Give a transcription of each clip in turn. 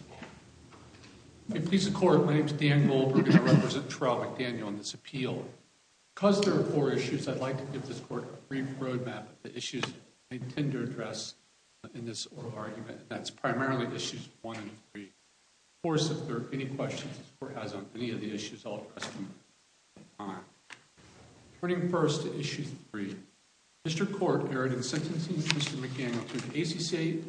I am pleased to report my name is Dan Goldberg and I represent Terreall McDaniel on this appeal. Because there are four issues I'd like to give this court a brief roadmap of the issues I intend to address in this oral argument. That's primarily issues one and three. Of course if there are any questions this court has on any of the issues I'll address them at the time. Turning first to issue three. District Court erred in sentencing Mr. McDaniel to the ACCA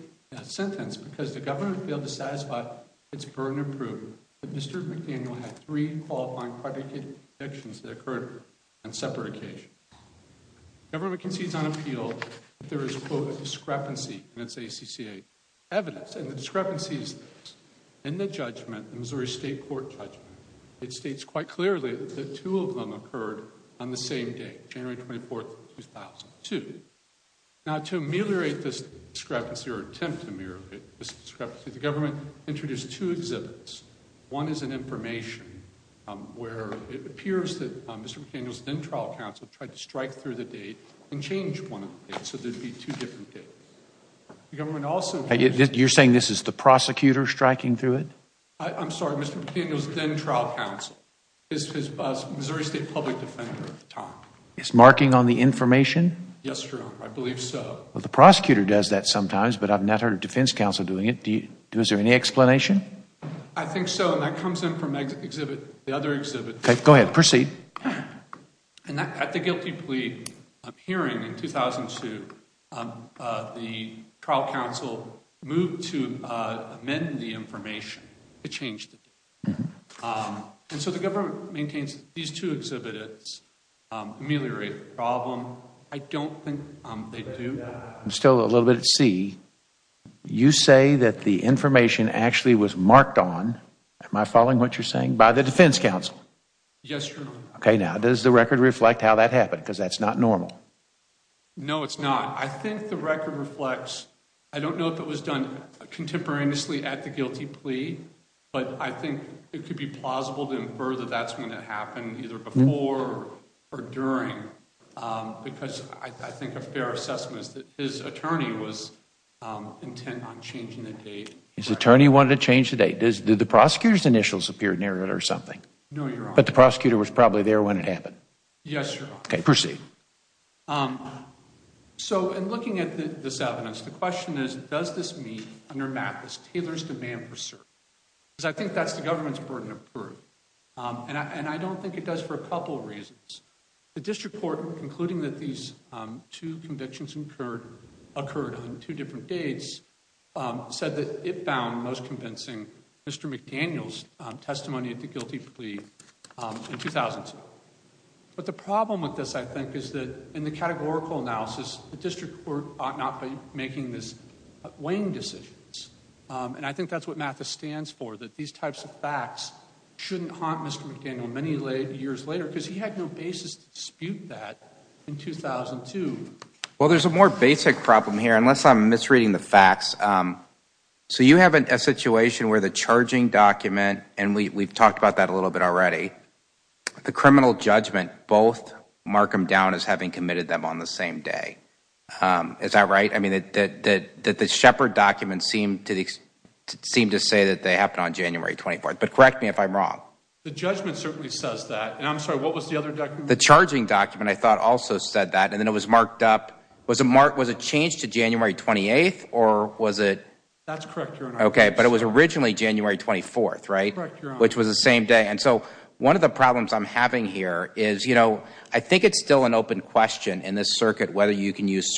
sentence because the government failed to satisfy its burden of proof that Mr. McDaniel had three qualifying private convictions that occurred on separate occasions. Government concedes on appeal that there is quote a discrepancy in its ACCA evidence. And the discrepancies in the judgment, the Missouri State Court judgment, it states quite clearly that two of them occurred on the same day, January 24, 2002. Now to ameliorate this discrepancy or attempt to ameliorate this discrepancy the government introduced two exhibits. One is an information where it appears that Mr. McDaniel's then trial counsel tried to strike through the date and change one of the dates so there would be two different dates. You're saying this is the prosecutor striking through it? I'm sorry, Mr. McDaniel's then trial counsel. His Missouri State public defender at the time. It's marking on the information? Yes, sir, I believe so. Well, the prosecutor does that sometimes but I've not heard a defense counsel doing it. Is there any explanation? I think so and that comes in from the other exhibit. Okay, go ahead, proceed. At the guilty plea hearing in 2002, the trial counsel moved to amend the information to change the date. And so the government maintains these two exhibits ameliorate the problem. I don't think they do. I'm still a little bit at sea. You say that the information actually was marked on, am I following what you're saying, by the defense counsel? Yes, your Honor. Okay, now does the record reflect how that happened because that's not normal? No, it's not. I think the record reflects, I don't know if it was done contemporaneously at the guilty plea, but I think it could be plausible to infer that that's when it happened either before or during because I think a fair assessment is that his attorney was intent on changing the date. His attorney wanted to change the date. Did the prosecutor's initials appear near it or something? No, your Honor. But the prosecutor was probably there when it happened? Yes, your Honor. Okay, proceed. So in looking at this evidence, the question is, does this mean under Mathis Taylor's demand for cert? Because I think that's the government's burden of proof, and I don't think it does for a couple of reasons. The district court, concluding that these two convictions occurred on two different dates, said that it found most convincing Mr. McDaniel's testimony at the guilty plea in 2007. But the problem with this, I think, is that in the categorical analysis, the district court ought not be making these weighing decisions, and I think that's what Mathis stands for, that these types of facts shouldn't haunt Mr. McDaniel many years later because he had no basis to dispute that in 2002. Well, there's a more basic problem here, unless I'm misreading the facts. So you have a situation where the charging document, and we've talked about that a little bit already, the criminal judgment both mark them down as having committed them on the same day. Is that right? I mean, the Shepard document seemed to say that they happened on January 24th, but correct me if I'm wrong. The judgment certainly says that, and I'm sorry, what was the other document? The charging document, I thought, also said that, and then it was marked up. Was it changed to January 28th, or was it? That's correct, Your Honor. Okay, but it was originally January 24th, right? Correct, Your Honor. Which was the same day. And so one of the problems I'm having here is, you know, I think it's still an open question in this circuit whether you can use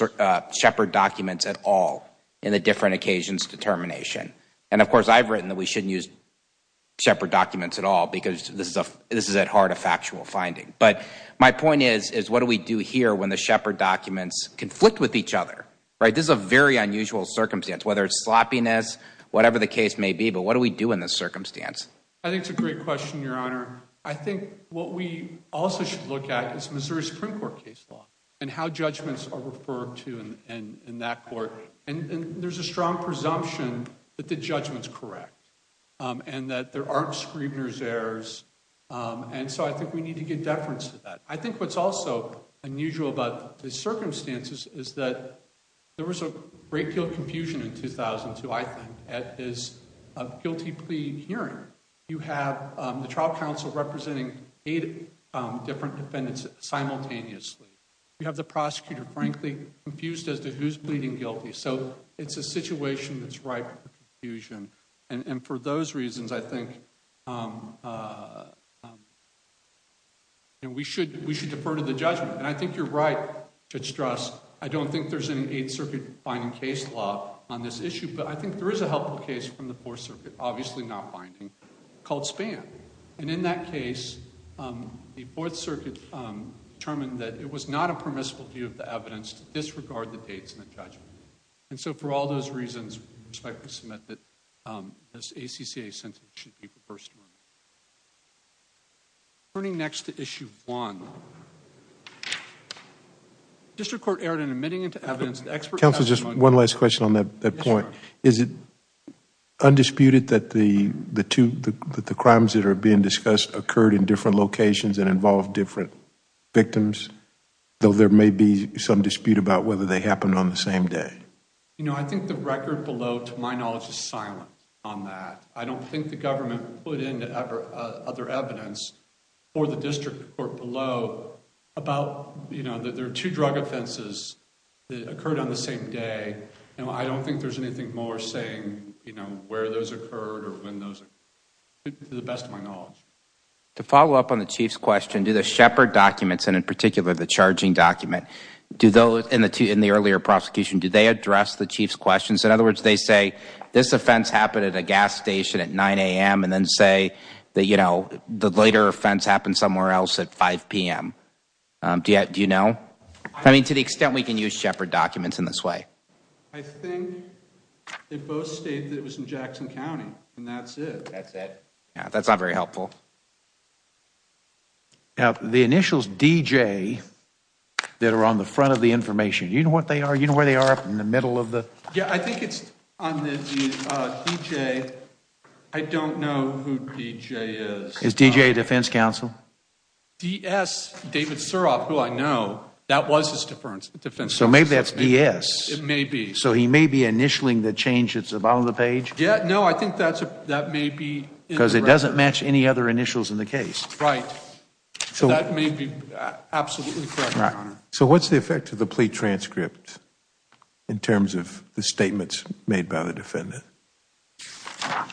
Shepard documents at all in the different occasions determination. And, of course, I've written that we shouldn't use Shepard documents at all because this is at heart a factual finding. But my point is, what do we do here when the Shepard documents conflict with each other? This is a very unusual circumstance, whether it's sloppiness, whatever the case may be, but what do we do in this circumstance? I think it's a great question, Your Honor. I think what we also should look at is Missouri Supreme Court case law and how judgments are referred to in that court. And there's a strong presumption that the judgment's correct and that there aren't Scribner's errors. And so I think we need to get deference to that. I think what's also unusual about the circumstances is that there was a great deal of confusion in 2002, I think, at this guilty plea hearing. You have the trial counsel representing eight different defendants simultaneously. You have the prosecutor, frankly, confused as to who's pleading guilty. So it's a situation that's ripe for confusion. And for those reasons, I think we should defer to the judgment. And I think you're right to stress I don't think there's any Eighth Circuit finding case law on this issue, but I think there is a helpful case from the Fourth Circuit, obviously not finding, called Spann. And in that case, the Fourth Circuit determined that it was not a permissible view of the evidence to disregard the dates in the judgment. And so for all those reasons, I respectfully submit that this ACCA sentence should be reversed. Turning next to Issue 1. The District Court erred in admitting into evidence the expert... Counsel, just one last question on that point. Yes, sir. Is it undisputed that the crimes that are being discussed occurred in different locations and involved different victims, though there may be some dispute about whether they happened on the same day? You know, I think the record below, to my knowledge, is silent on that. I don't think the government put in other evidence for the District Court below about, you know, that there are two drug offenses that occurred on the same day. I don't think there's anything more saying, you know, where those occurred or when those occurred, to the best of my knowledge. To follow up on the Chief's question, do the Shepard documents, and in particular the charging document, do those in the earlier prosecution, do they address the Chief's questions? In other words, they say this offense happened at a gas station at 9 a.m. and then say that, you know, the later offense happened somewhere else at 5 p.m. Do you know? I mean, to the extent we can use Shepard documents in this way. I think they both state that it was in Jackson County, and that's it. That's it. Now, the initials D.J. that are on the front of the information, do you know what they are? Do you know where they are up in the middle of the? Yeah, I think it's on the D.J. I don't know who D.J. is. Is D.J. a defense counsel? D.S. David Suroff, who I know, that was his defense counsel. So maybe that's D.S. It may be. So he may be initialing the change that's at the bottom of the page? Yeah, no, I think that may be. Because it doesn't match any other initials in the case. Right. So that may be absolutely correct, Your Honor. So what's the effect of the plea transcript in terms of the statements made by the defendant?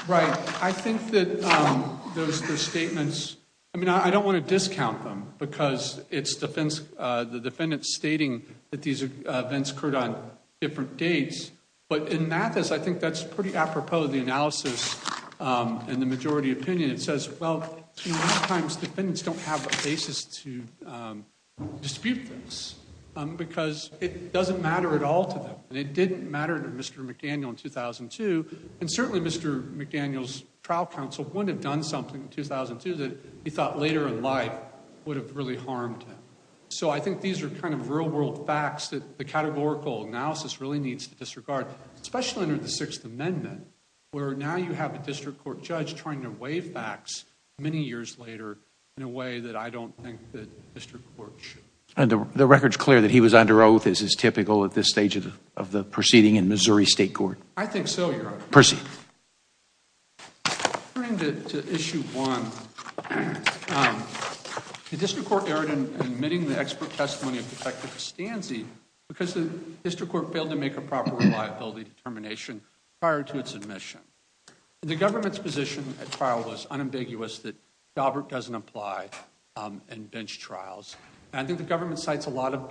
Right. I think that those statements, I mean, I don't want to discount them because it's the defendant stating that these events occurred on different dates. But in Mathis, I think that's pretty apropos of the analysis and the majority opinion. It says, well, sometimes defendants don't have a basis to dispute things because it doesn't matter at all to them. And it didn't matter to Mr. McDaniel in 2002. And certainly Mr. McDaniel's trial counsel wouldn't have done something in 2002 that he thought later in life would have really harmed him. So I think these are kind of real-world facts that the categorical analysis really needs to disregard, especially under the Sixth Amendment, where now you have a district court judge trying to weigh facts many years later in a way that I don't think the district court should. And the record's clear that he was under oath as is typical at this stage of the proceeding in Missouri State Court. I think so, Your Honor. Proceed. Turning to Issue 1, the district court erred in admitting the expert testimony of Detective Stanzi because the district court failed to make a proper reliability determination prior to its admission. The government's position at trial was unambiguous that Daubert doesn't apply in bench trials. And I think the government cites a lot of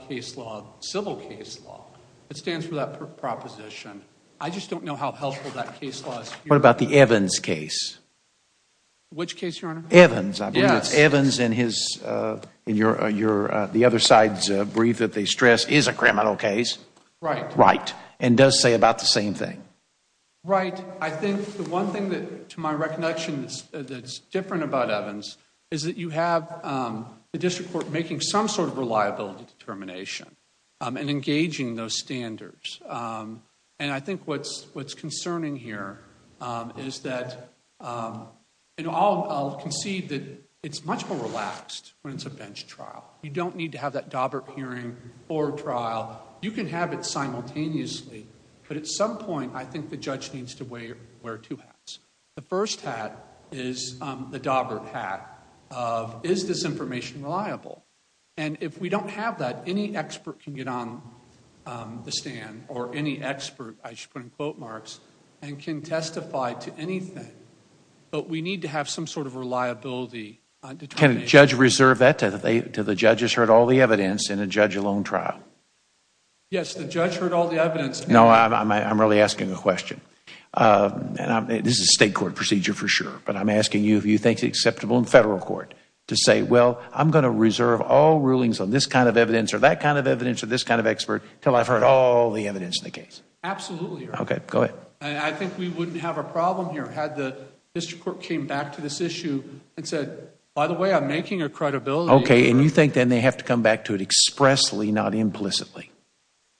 civil case law that stands for that proposition. I just don't know how helpful that case law is. What about the Evans case? Which case, Your Honor? Evans. I believe it's Evans and the other side's brief that they stress is a criminal case. Right. And does say about the same thing. Right. I think the one thing to my recognition that's different about Evans is that you have the district court making some sort of reliability determination and engaging those standards. And I think what's concerning here is that I'll concede that it's much more relaxed when it's a bench trial. You don't need to have that Daubert hearing or trial. You can have it simultaneously. But at some point, I think the judge needs to wear two hats. The first hat is the Daubert hat of is this information reliable? And if we don't have that, any expert can get on the stand, or any expert, I should put in quote marks, and can testify to anything. But we need to have some sort of reliability determination. Can a judge reserve that until the judge has heard all the evidence in a judge-alone trial? Yes, the judge heard all the evidence. No, I'm really asking a question. This is a state court procedure for sure, but I'm asking you if you think it's acceptable in federal court to say, well, I'm going to reserve all rulings on this kind of evidence or that kind of evidence or this kind of expert until I've heard all the evidence in the case? Absolutely. Okay, go ahead. I think we wouldn't have a problem here had the district court came back to this issue and said, by the way, I'm making a credibility. Okay, and you think then they have to come back to it expressly, not implicitly?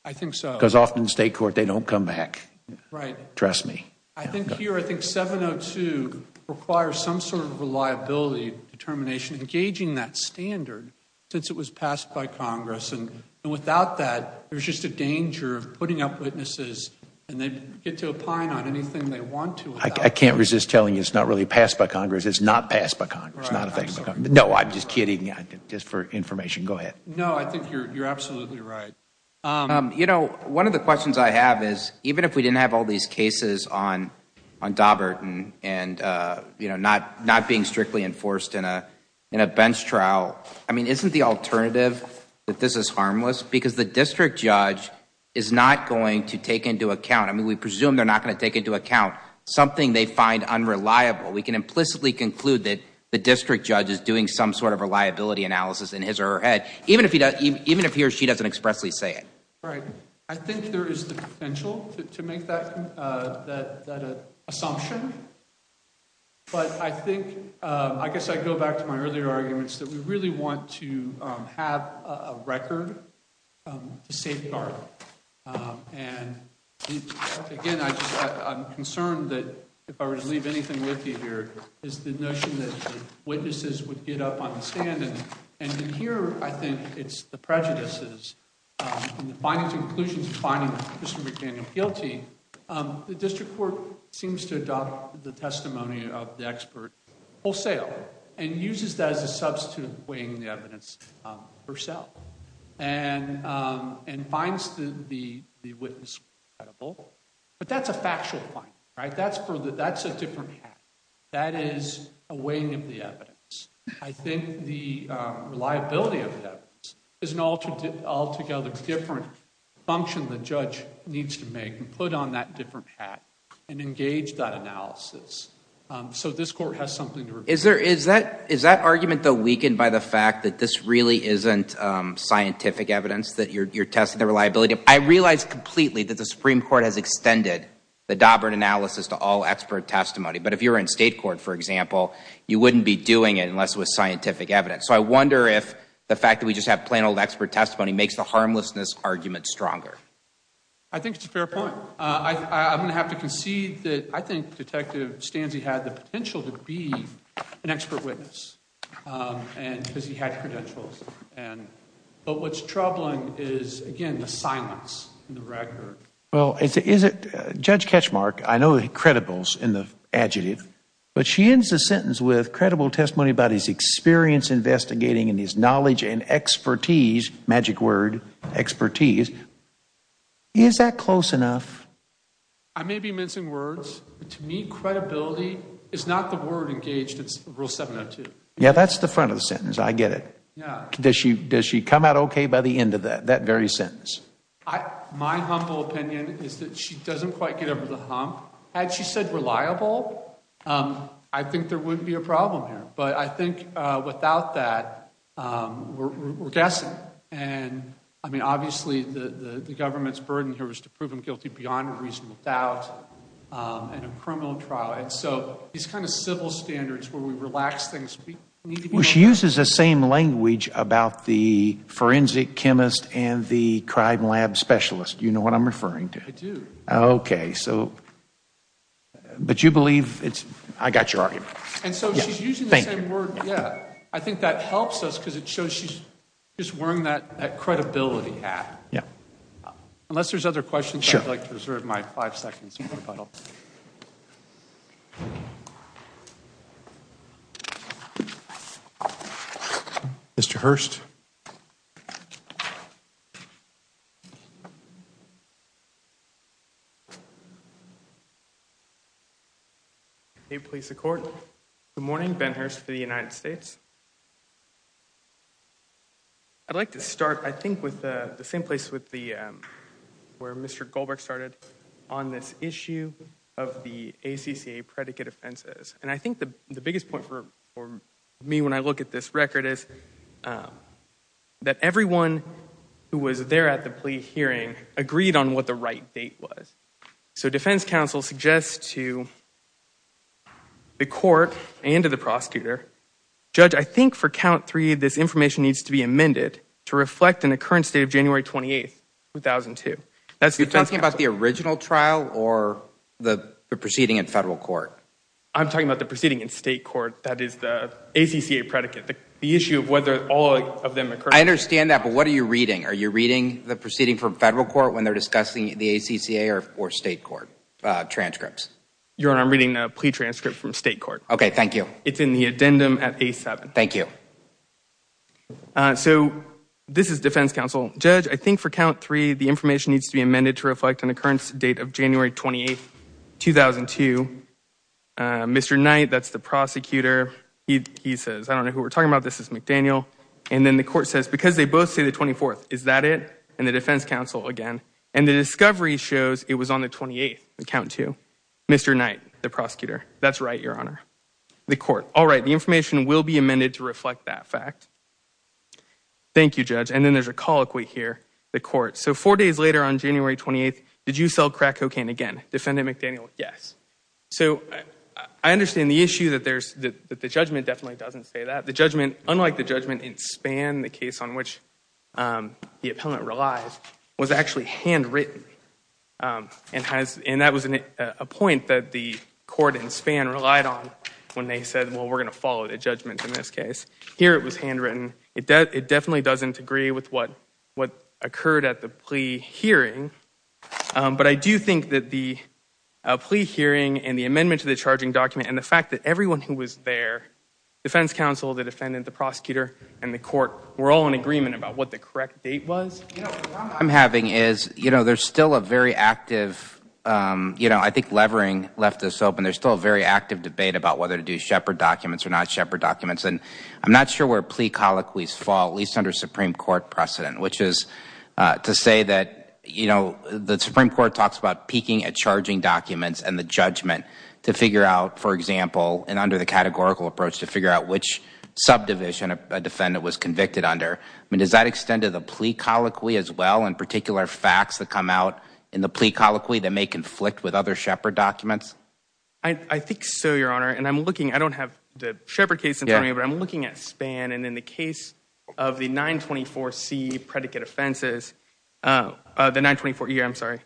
I think so. Because often in state court, they don't come back. Right. Trust me. I think here, I think 702 requires some sort of reliability determination, engaging that standard since it was passed by Congress. And without that, there's just a danger of putting up witnesses and they get to opine on anything they want to about it. I can't resist telling you it's not really passed by Congress. It's not passed by Congress. Right, absolutely. No, I'm just kidding. Just for information. Go ahead. No, I think you're absolutely right. You know, one of the questions I have is, even if we didn't have all these cases on Daubert and not being strictly enforced in a bench trial, I mean, isn't the alternative that this is harmless? Because the district judge is not going to take into account, I mean, we presume they're not going to take into account something they find unreliable. We can implicitly conclude that the district judge is doing some sort of reliability analysis in his or her head, even if he or she doesn't expressly say it. Right. I think there is the potential to make that assumption. But I think, I guess I go back to my earlier arguments, that we really want to have a record to safeguard. And, again, I'm concerned that if I were to leave anything with you here, it's the notion that witnesses would get up on the stand and hear, I think, it's the prejudices. In the findings and conclusions of finding Mr. McDaniel guilty, the district court seems to adopt the testimony of the expert wholesale and uses that as a substitute for weighing the evidence herself and finds the witness credible. But that's a factual finding, right? That's a different hack. That is a weighing of the evidence. I think the reliability of the evidence is an altogether different function the judge needs to make and put on that different hat and engage that analysis. So this court has something to review. Is that argument, though, weakened by the fact that this really isn't scientific evidence, that you're testing the reliability? I realize completely that the Supreme Court has extended the Dobrin analysis to all expert testimony. But if you were in state court, for example, you wouldn't be doing it unless it was scientific evidence. So I wonder if the fact that we just have plain old expert testimony makes the harmlessness argument stronger. I think it's a fair point. I'm going to have to concede that I think Detective Stanzi had the potential to be an expert witness because he had credentials. But what's troubling is, again, the silence in the record. Judge Ketchmark, I know the credibles in the adjective, but she ends the sentence with credible testimony about his experience investigating and his knowledge and expertise, magic word, expertise. Is that close enough? I may be mincing words, but to me credibility is not the word engaged. It's rule 702. Yeah, that's the front of the sentence. I get it. Does she come out okay by the end of that, that very sentence? My humble opinion is that she doesn't quite get over the hump. Had she said reliable, I think there wouldn't be a problem here. But I think without that, we're guessing. And, I mean, obviously the government's burden here was to prove him guilty beyond a reasonable doubt in a criminal trial. And so these kind of civil standards where we relax things. She uses the same language about the forensic chemist and the crime lab specialist, you know what I'm referring to. I do. Okay. So, but you believe it's, I got your argument. And so she's using the same word, yeah. I think that helps us because it shows she's just wearing that credibility hat. Yeah. Unless there's other questions, I'd like to reserve my five seconds. Super funnel. Mr. Hurst. Hey, police, the court. Good morning. Ben Hurst for the United States. I'd like to start, I think, with the same place with the, where Mr. Goldberg started on this issue of the ACCA predicate offenses. And I think the biggest point for me when I look at this record is that everyone who was there at the plea hearing agreed on what the right date was. So defense counsel suggests to the court and to the prosecutor, judge, I think for count three this information needs to be amended to reflect an occurrence date of January 28th, 2002. You're talking about the original trial or the proceeding in federal court? I'm talking about the proceeding in state court. That is the ACCA predicate. The issue of whether all of them occurred. I understand that, but what are you reading? Are you reading the proceeding from federal court when they're discussing the ACCA or state court transcripts? Your Honor, I'm reading a plea transcript from state court. Okay. Thank you. It's in the addendum at A7. Thank you. So this is defense counsel. Judge, I think for count three the information needs to be amended to reflect an occurrence date of January 28th, 2002. Mr. Knight, that's the prosecutor. He says, I don't know who we're talking about. This is McDaniel. And then the court says, because they both say the 24th, is that it? And the defense counsel again. And the discovery shows it was on the 28th, count two. Mr. Knight, the prosecutor. That's right, Your Honor. The court. All right. The information will be amended to reflect that fact. Thank you, Judge. And then there's a colloquy here, the court. So four days later on January 28th, did you sell crack cocaine again? Defendant McDaniel, yes. So I understand the issue that the judgment definitely doesn't say that. The judgment, unlike the judgment in Spann, the case on which the appellant relies, was actually handwritten. And that was a point that the court in Spann relied on when they said, well, we're going to follow the judgment in this case. Here it was handwritten. It definitely doesn't agree with what occurred at the plea hearing. But I do think that the plea hearing and the amendment to the charging document and the fact that everyone who was there, defense counsel, the defendant, the prosecutor, and the court, were all in agreement about what the correct date was. You know, what I'm having is, you know, there's still a very active, you know, I think Levering left this open. There's still a very active debate about whether to do Shepard documents or not Shepard documents. And I'm not sure where plea colloquies fall, at least under Supreme Court precedent, which is to say that, you know, the Supreme Court talks about peeking at charging documents and the judgment to figure out, for example, and under the categorical approach to figure out which subdivision a defendant was convicted under. I mean, does that extend to the plea colloquy as well, in particular facts that come out in the plea colloquy that may conflict with other Shepard documents? I think so, Your Honor. And I'm looking, I don't have the Shepard case in front of me, but I'm looking at Spann. And in the case of the 924C predicate offenses, the 924E, I'm sorry,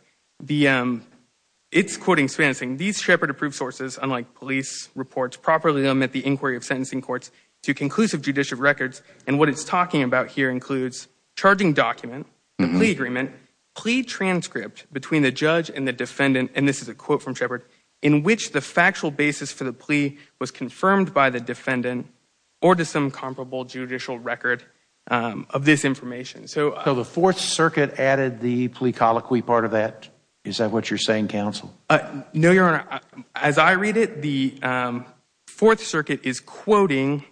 it's quoting Spann saying, these Shepard-approved sources, unlike police reports, properly omit the inquiry of sentencing courts to conclusive judicial records. And what it's talking about here includes charging document, the plea agreement, plea transcript between the judge and the defendant, and this is a quote from Shepard, in which the factual basis for the plea was confirmed by the defendant or to some comparable judicial record of this information. So the Fourth Circuit added the plea colloquy part of that? Is that what you're saying, counsel? No, Your Honor. As I read it, the Fourth Circuit is quoting...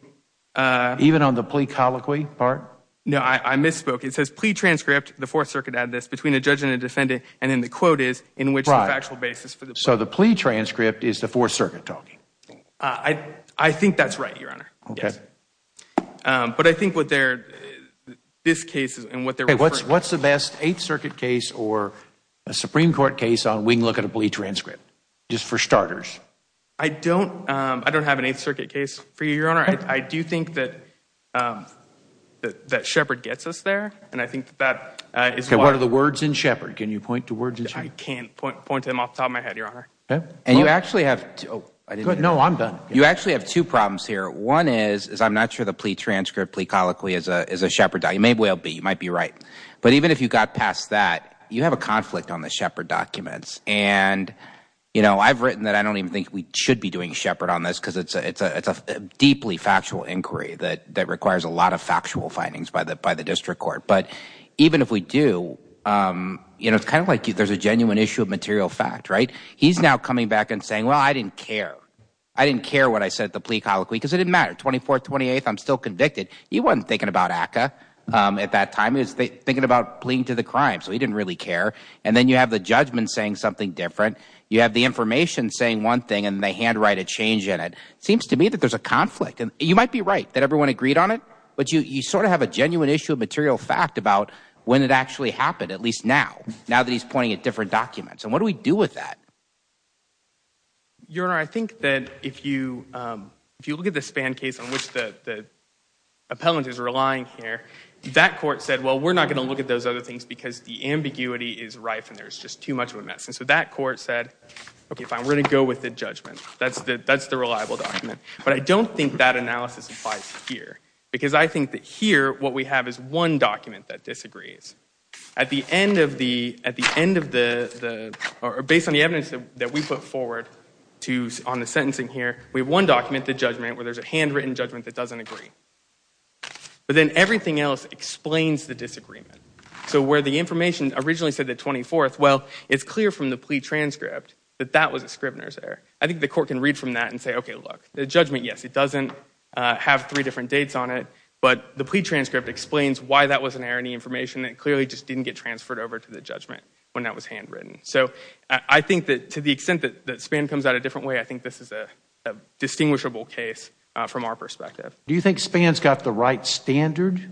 Even on the plea colloquy part? No, I misspoke. It says plea transcript, the Fourth Circuit added this, between a judge and the defendant. So the plea transcript is the Fourth Circuit talking? I think that's right, Your Honor. Okay. Yes. But I think what they're, this case and what they're referring to... Okay, what's the best Eighth Circuit case or a Supreme Court case on we can look at a plea transcript, just for starters? I don't have an Eighth Circuit case for you, Your Honor. I do think that Shepard gets us there, and I think that is why... Okay, what are the words in Shepard? Can you point to words in Shepard? I can't point to them off the top of my head, Your Honor. And you actually have two... No, I'm done. You actually have two problems here. One is, is I'm not sure the plea transcript, plea colloquy is a Shepard document. It may well be. You might be right. But even if you got past that, you have a conflict on the Shepard documents. And, you know, I've written that I don't even think we should be doing Shepard on this because it's a deeply factual inquiry that requires a lot of factual findings by the district court. But even if we do, you know, it's kind of like there's a genuine issue of material fact, right? He's now coming back and saying, well, I didn't care. I didn't care what I said at the plea colloquy because it didn't matter. 24th, 28th, I'm still convicted. He wasn't thinking about ACCA at that time. He was thinking about pleading to the crime. So he didn't really care. And then you have the judgment saying something different. You have the information saying one thing, and they handwrite a change in it. It seems to me that there's a conflict. And you might be right, that everyone agreed on it. But you sort of have a genuine issue of material fact about when it actually happened, at least now, now that he's pointing at different documents. And what do we do with that? Your Honor, I think that if you look at the Spann case on which the appellant is relying here, that court said, well, we're not going to look at those other things because the ambiguity is rife and there's just too much of a mess. And so that court said, okay, fine, we're going to go with the judgment. That's the reliable document. But I don't think that analysis applies here, because I think that here what we have is one document that disagrees. At the end of the – or based on the evidence that we put forward to – on the sentencing here, we have one document, the judgment, where there's a handwritten judgment that doesn't agree. But then everything else explains the disagreement. So where the information originally said the 24th, well, it's clear from the plea transcript that that was a scrivener's error. I think the court can read from that and say, okay, look, the judgment, yes, it doesn't have three different dates on it, but the plea transcript explains why that was an erroneous information that clearly just didn't get transferred over to the judgment when that was handwritten. So I think that to the extent that Spann comes out a different way, I think this is a distinguishable case from our perspective. Do you think Spann's got the right standard?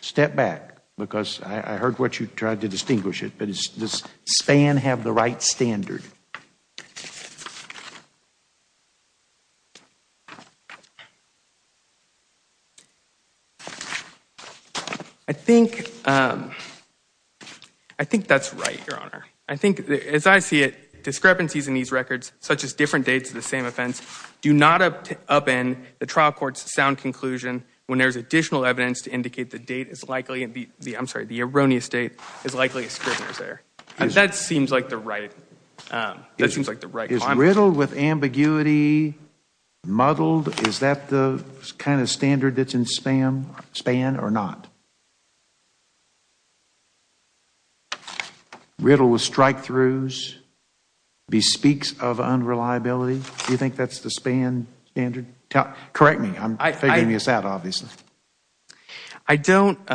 Step back, because I heard what you tried to distinguish it, but does Spann have the right standard? I think – I think that's right, Your Honor. I think, as I see it, discrepancies in these records, such as different dates of the same offense, do not upend the trial court's sound conclusion when there's additional evidence to indicate the date is likely – I'm sorry, the erroneous date is likely a scrivener's error. That seems like the right – that seems like the right comment. Is riddled with ambiguity muddled, is that the kind of standard that's in Spann or not? Riddled with strikethroughs, bespeaks of unreliability, do you think that's the Spann standard? Correct me. I'm figuring this out, obviously. I don't –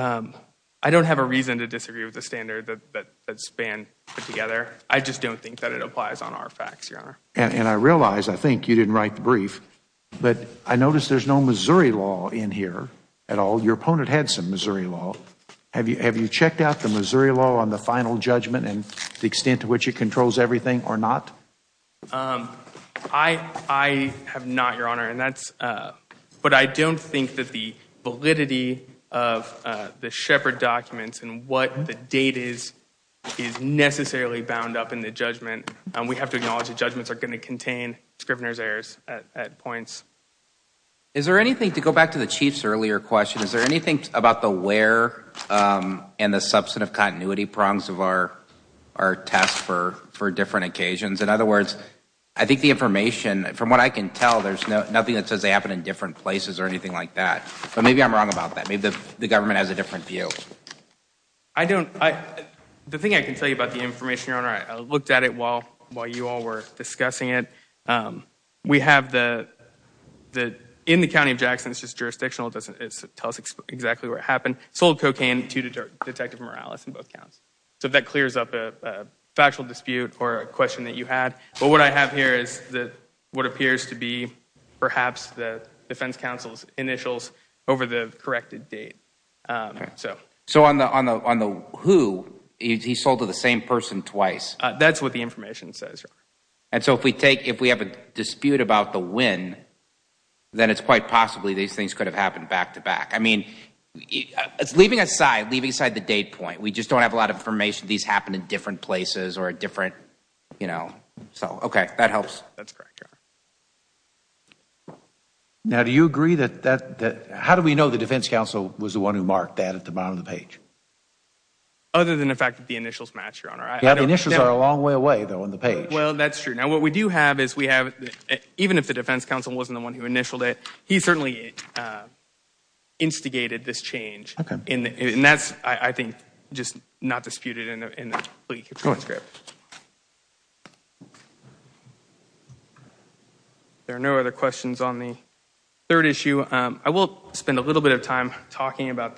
I don't have a reason to disagree with the standard that Spann put together. I just don't think that it applies on our facts, Your Honor. And I realize, I think you didn't write the brief, but I notice there's no Missouri law in here at all. Your opponent had some Missouri law. Have you checked out the Missouri law on the final judgment and the extent to which it controls everything or not? I have not, Your Honor. And that's – but I don't think that the validity of the Shepard documents and what the date is is necessarily bound up in the judgment. We have to acknowledge that judgments are going to contain scrivener's errors at points. Is there anything – to go back to the Chief's earlier question, is there anything about the where and the substantive continuity prongs of our test for different occasions? In other words, I think the information – from what I can tell, there's nothing that says they happen in different places or anything like that. But maybe I'm wrong about that. Maybe the government has a different view. I don't – the thing I can tell you about the information, Your Honor, I looked at it while you all were discussing it. We have the – in the county of Jackson, it's just jurisdictional. It doesn't tell us exactly what happened. Sold cocaine to Detective Morales in both counts. So that clears up a factual dispute or a question that you had. But what I have here is what appears to be perhaps the defense counsel's initials over the corrected date. So on the who, he sold to the same person twice. That's what the information says, Your Honor. And so if we take – if we have a dispute about the when, then it's quite possibly these things could have happened back-to-back. I mean, it's leaving aside – leaving aside the date point. We just don't have a lot of information. These happen in different places or a different – so, okay, that helps. That's correct, Your Honor. Now, do you agree that – how do we know the defense counsel was the one who marked that at the bottom of the page? Other than the fact that the initials match, Your Honor. Yeah, the initials are a long way away, though, on the page. Well, that's true. Now, what we do have is we have – even if the defense counsel wasn't the one who There are no other questions on the third issue. I will spend a little bit of time talking about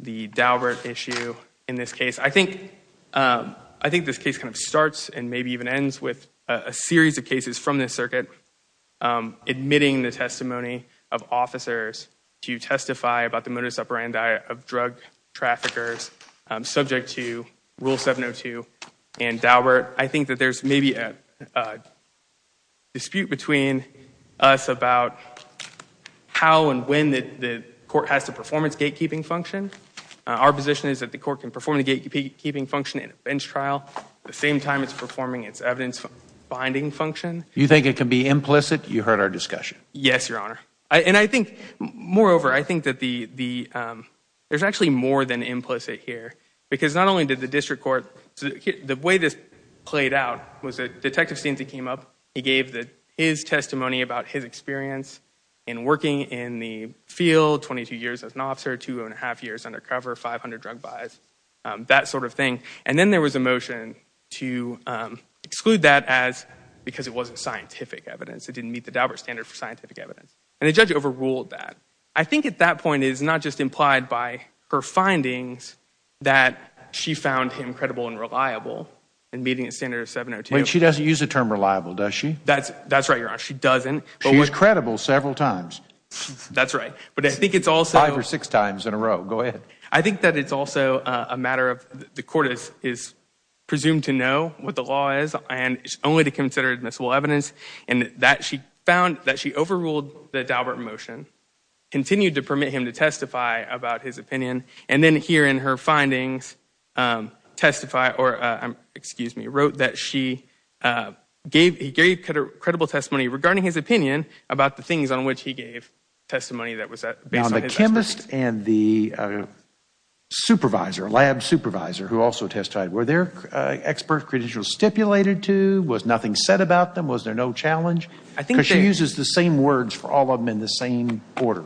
the Daubert issue in this case. I think this case kind of starts and maybe even ends with a series of cases from this circuit admitting the testimony of officers to testify about the modus operandi of drug traffickers subject to Rule 702 and Daubert. I think that there's maybe a dispute between us about how and when the court has to perform its gatekeeping function. Our position is that the court can perform the gatekeeping function in a bench trial the same time it's performing its evidence-binding function. You think it can be implicit? You heard our discussion. Yes, Your Honor. Moreover, I think that there's actually more than implicit here. Because not only did the district court – the way this played out was that Detective Stinson came up. He gave his testimony about his experience in working in the field, 22 years as an officer, two and a half years undercover, 500 drug buys, that sort of thing. And then there was a motion to exclude that because it wasn't scientific evidence. It didn't meet the Daubert standard for scientific evidence. And the judge overruled that. I think at that point it's not just implied by her findings that she found him credible and reliable in meeting the standard of 702. Wait, she doesn't use the term reliable, does she? That's right, Your Honor. She doesn't. She was credible several times. That's right. But I think it's also – Five or six times in a row. Go ahead. I think that it's also a matter of – the court is presumed to know what the law is and it's only to consider admissible evidence. And that she found – that she overruled the Daubert motion, continued to permit him to testify about his opinion, and then here in her findings testify – or, excuse me, wrote that she gave – he gave credible testimony regarding his opinion about the things on which he gave testimony that was based on his experience. Now, the chemist and the supervisor, lab supervisor, who also testified, were their expert credentials stipulated to? Was nothing said about them? Was there no challenge? Because she uses the same words for all of them in the same order.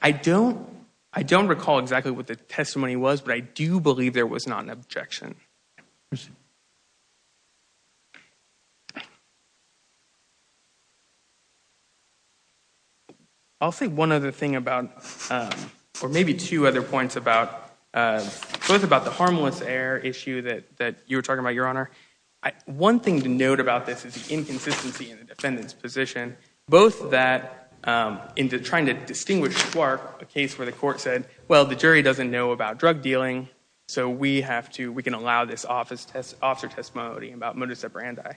I don't recall exactly what the testimony was, but I do believe there was not an objection. I'll say one other thing about – or maybe two other points about – the issue that you were talking about, Your Honor. One thing to note about this is the inconsistency in the defendant's position, both that in trying to distinguish Schwartz, a case where the court said, well, the jury doesn't know about drug dealing, so we have to – we can allow this officer testimony about modus operandi.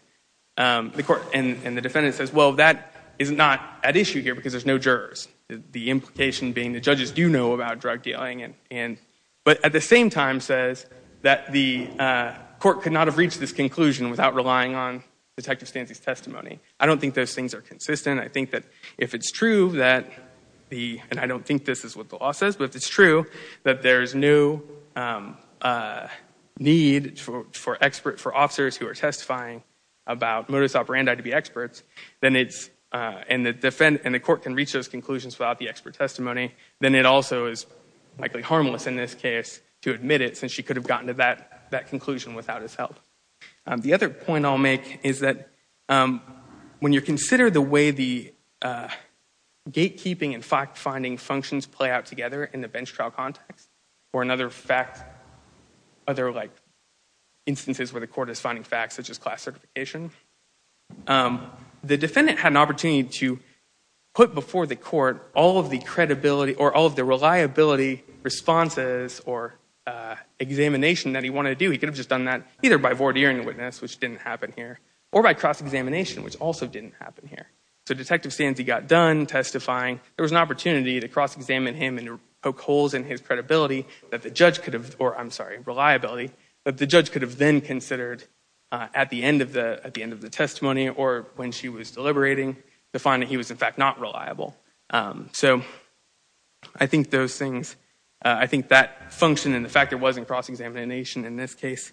And the defendant says, well, that is not at issue here because there's no jurors. The implication being the judges do know about drug dealing, but at the same time says that the court could not have reached this conclusion without relying on Detective Stancy's testimony. I don't think those things are consistent. I think that if it's true that the – and I don't think this is what the law says, but if it's true that there's no need for officers who are testifying about modus operandi to be experts, then it's – and the court can reach those conclusions without the expert testimony, then it also is likely harmless in this case to admit it since she could have gotten to that conclusion without his help. The other point I'll make is that when you consider the way the gatekeeping and fact-finding functions play out together in the bench trial context or another fact – other, like, instances where the court is finding facts, such as class certification, the defendant had an opportunity to put before the court all of the credibility or all of the reliability responses or examination that he wanted to do. He could have just done that either by voir dire in the witness, which didn't happen here, or by cross-examination, which also didn't happen here. So Detective Stancy got done testifying. There was an opportunity to cross-examine him and poke holes in his credibility that the judge could have – or, I'm sorry, reliability, that the judge could have then considered at the end of the testimony or when she was deliberating to find that he was, in fact, not reliable. So I think those things – I think that function and the fact it wasn't cross-examination in this case,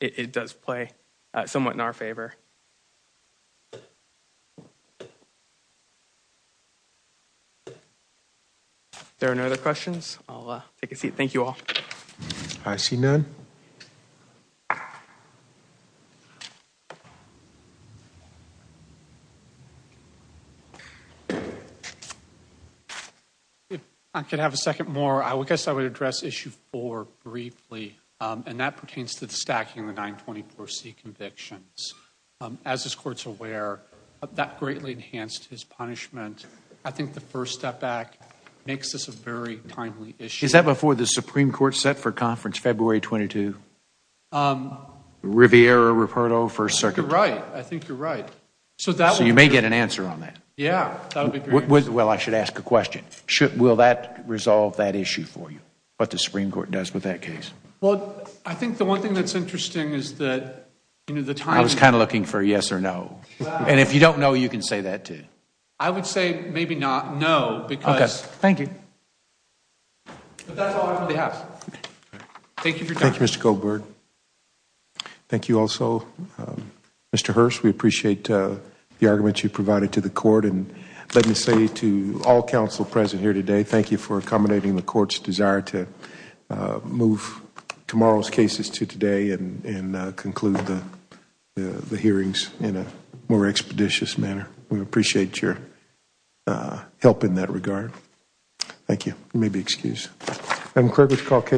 it does play somewhat in our favor. If there are no other questions, I'll take a seat. Thank you all. I see none. If I could have a second more, I guess I would address Issue 4 briefly, and that pertains to the stacking of the 924C convictions. As this Court's aware, that greatly enhanced his punishment. I think the First Step Act makes this a very timely issue. Is that before the Supreme Court set for conference February 22? Riviera-Ruperto First Circuit? You're right. I think you're right. So you may get an answer on that. Yeah, that would be great. Well, I should ask a question. Will that resolve that issue for you, what the Supreme Court does with that case? Well, I think the one thing that's interesting is that the time – I was kind of looking for a yes or no. And if you don't know, you can say that too. I would say maybe not no because – Okay. Thank you. Thank you for your time. Thank you, Mr. Goldberg. Thank you also, Mr. Hurst. We appreciate the argument you provided to the Court. And let me say to all counsel present here today, thank you for accommodating the Court's desire to move tomorrow's cases to today and conclude the hearings in a more expeditious manner. We appreciate your help in that regard. Thank you. You may be excused.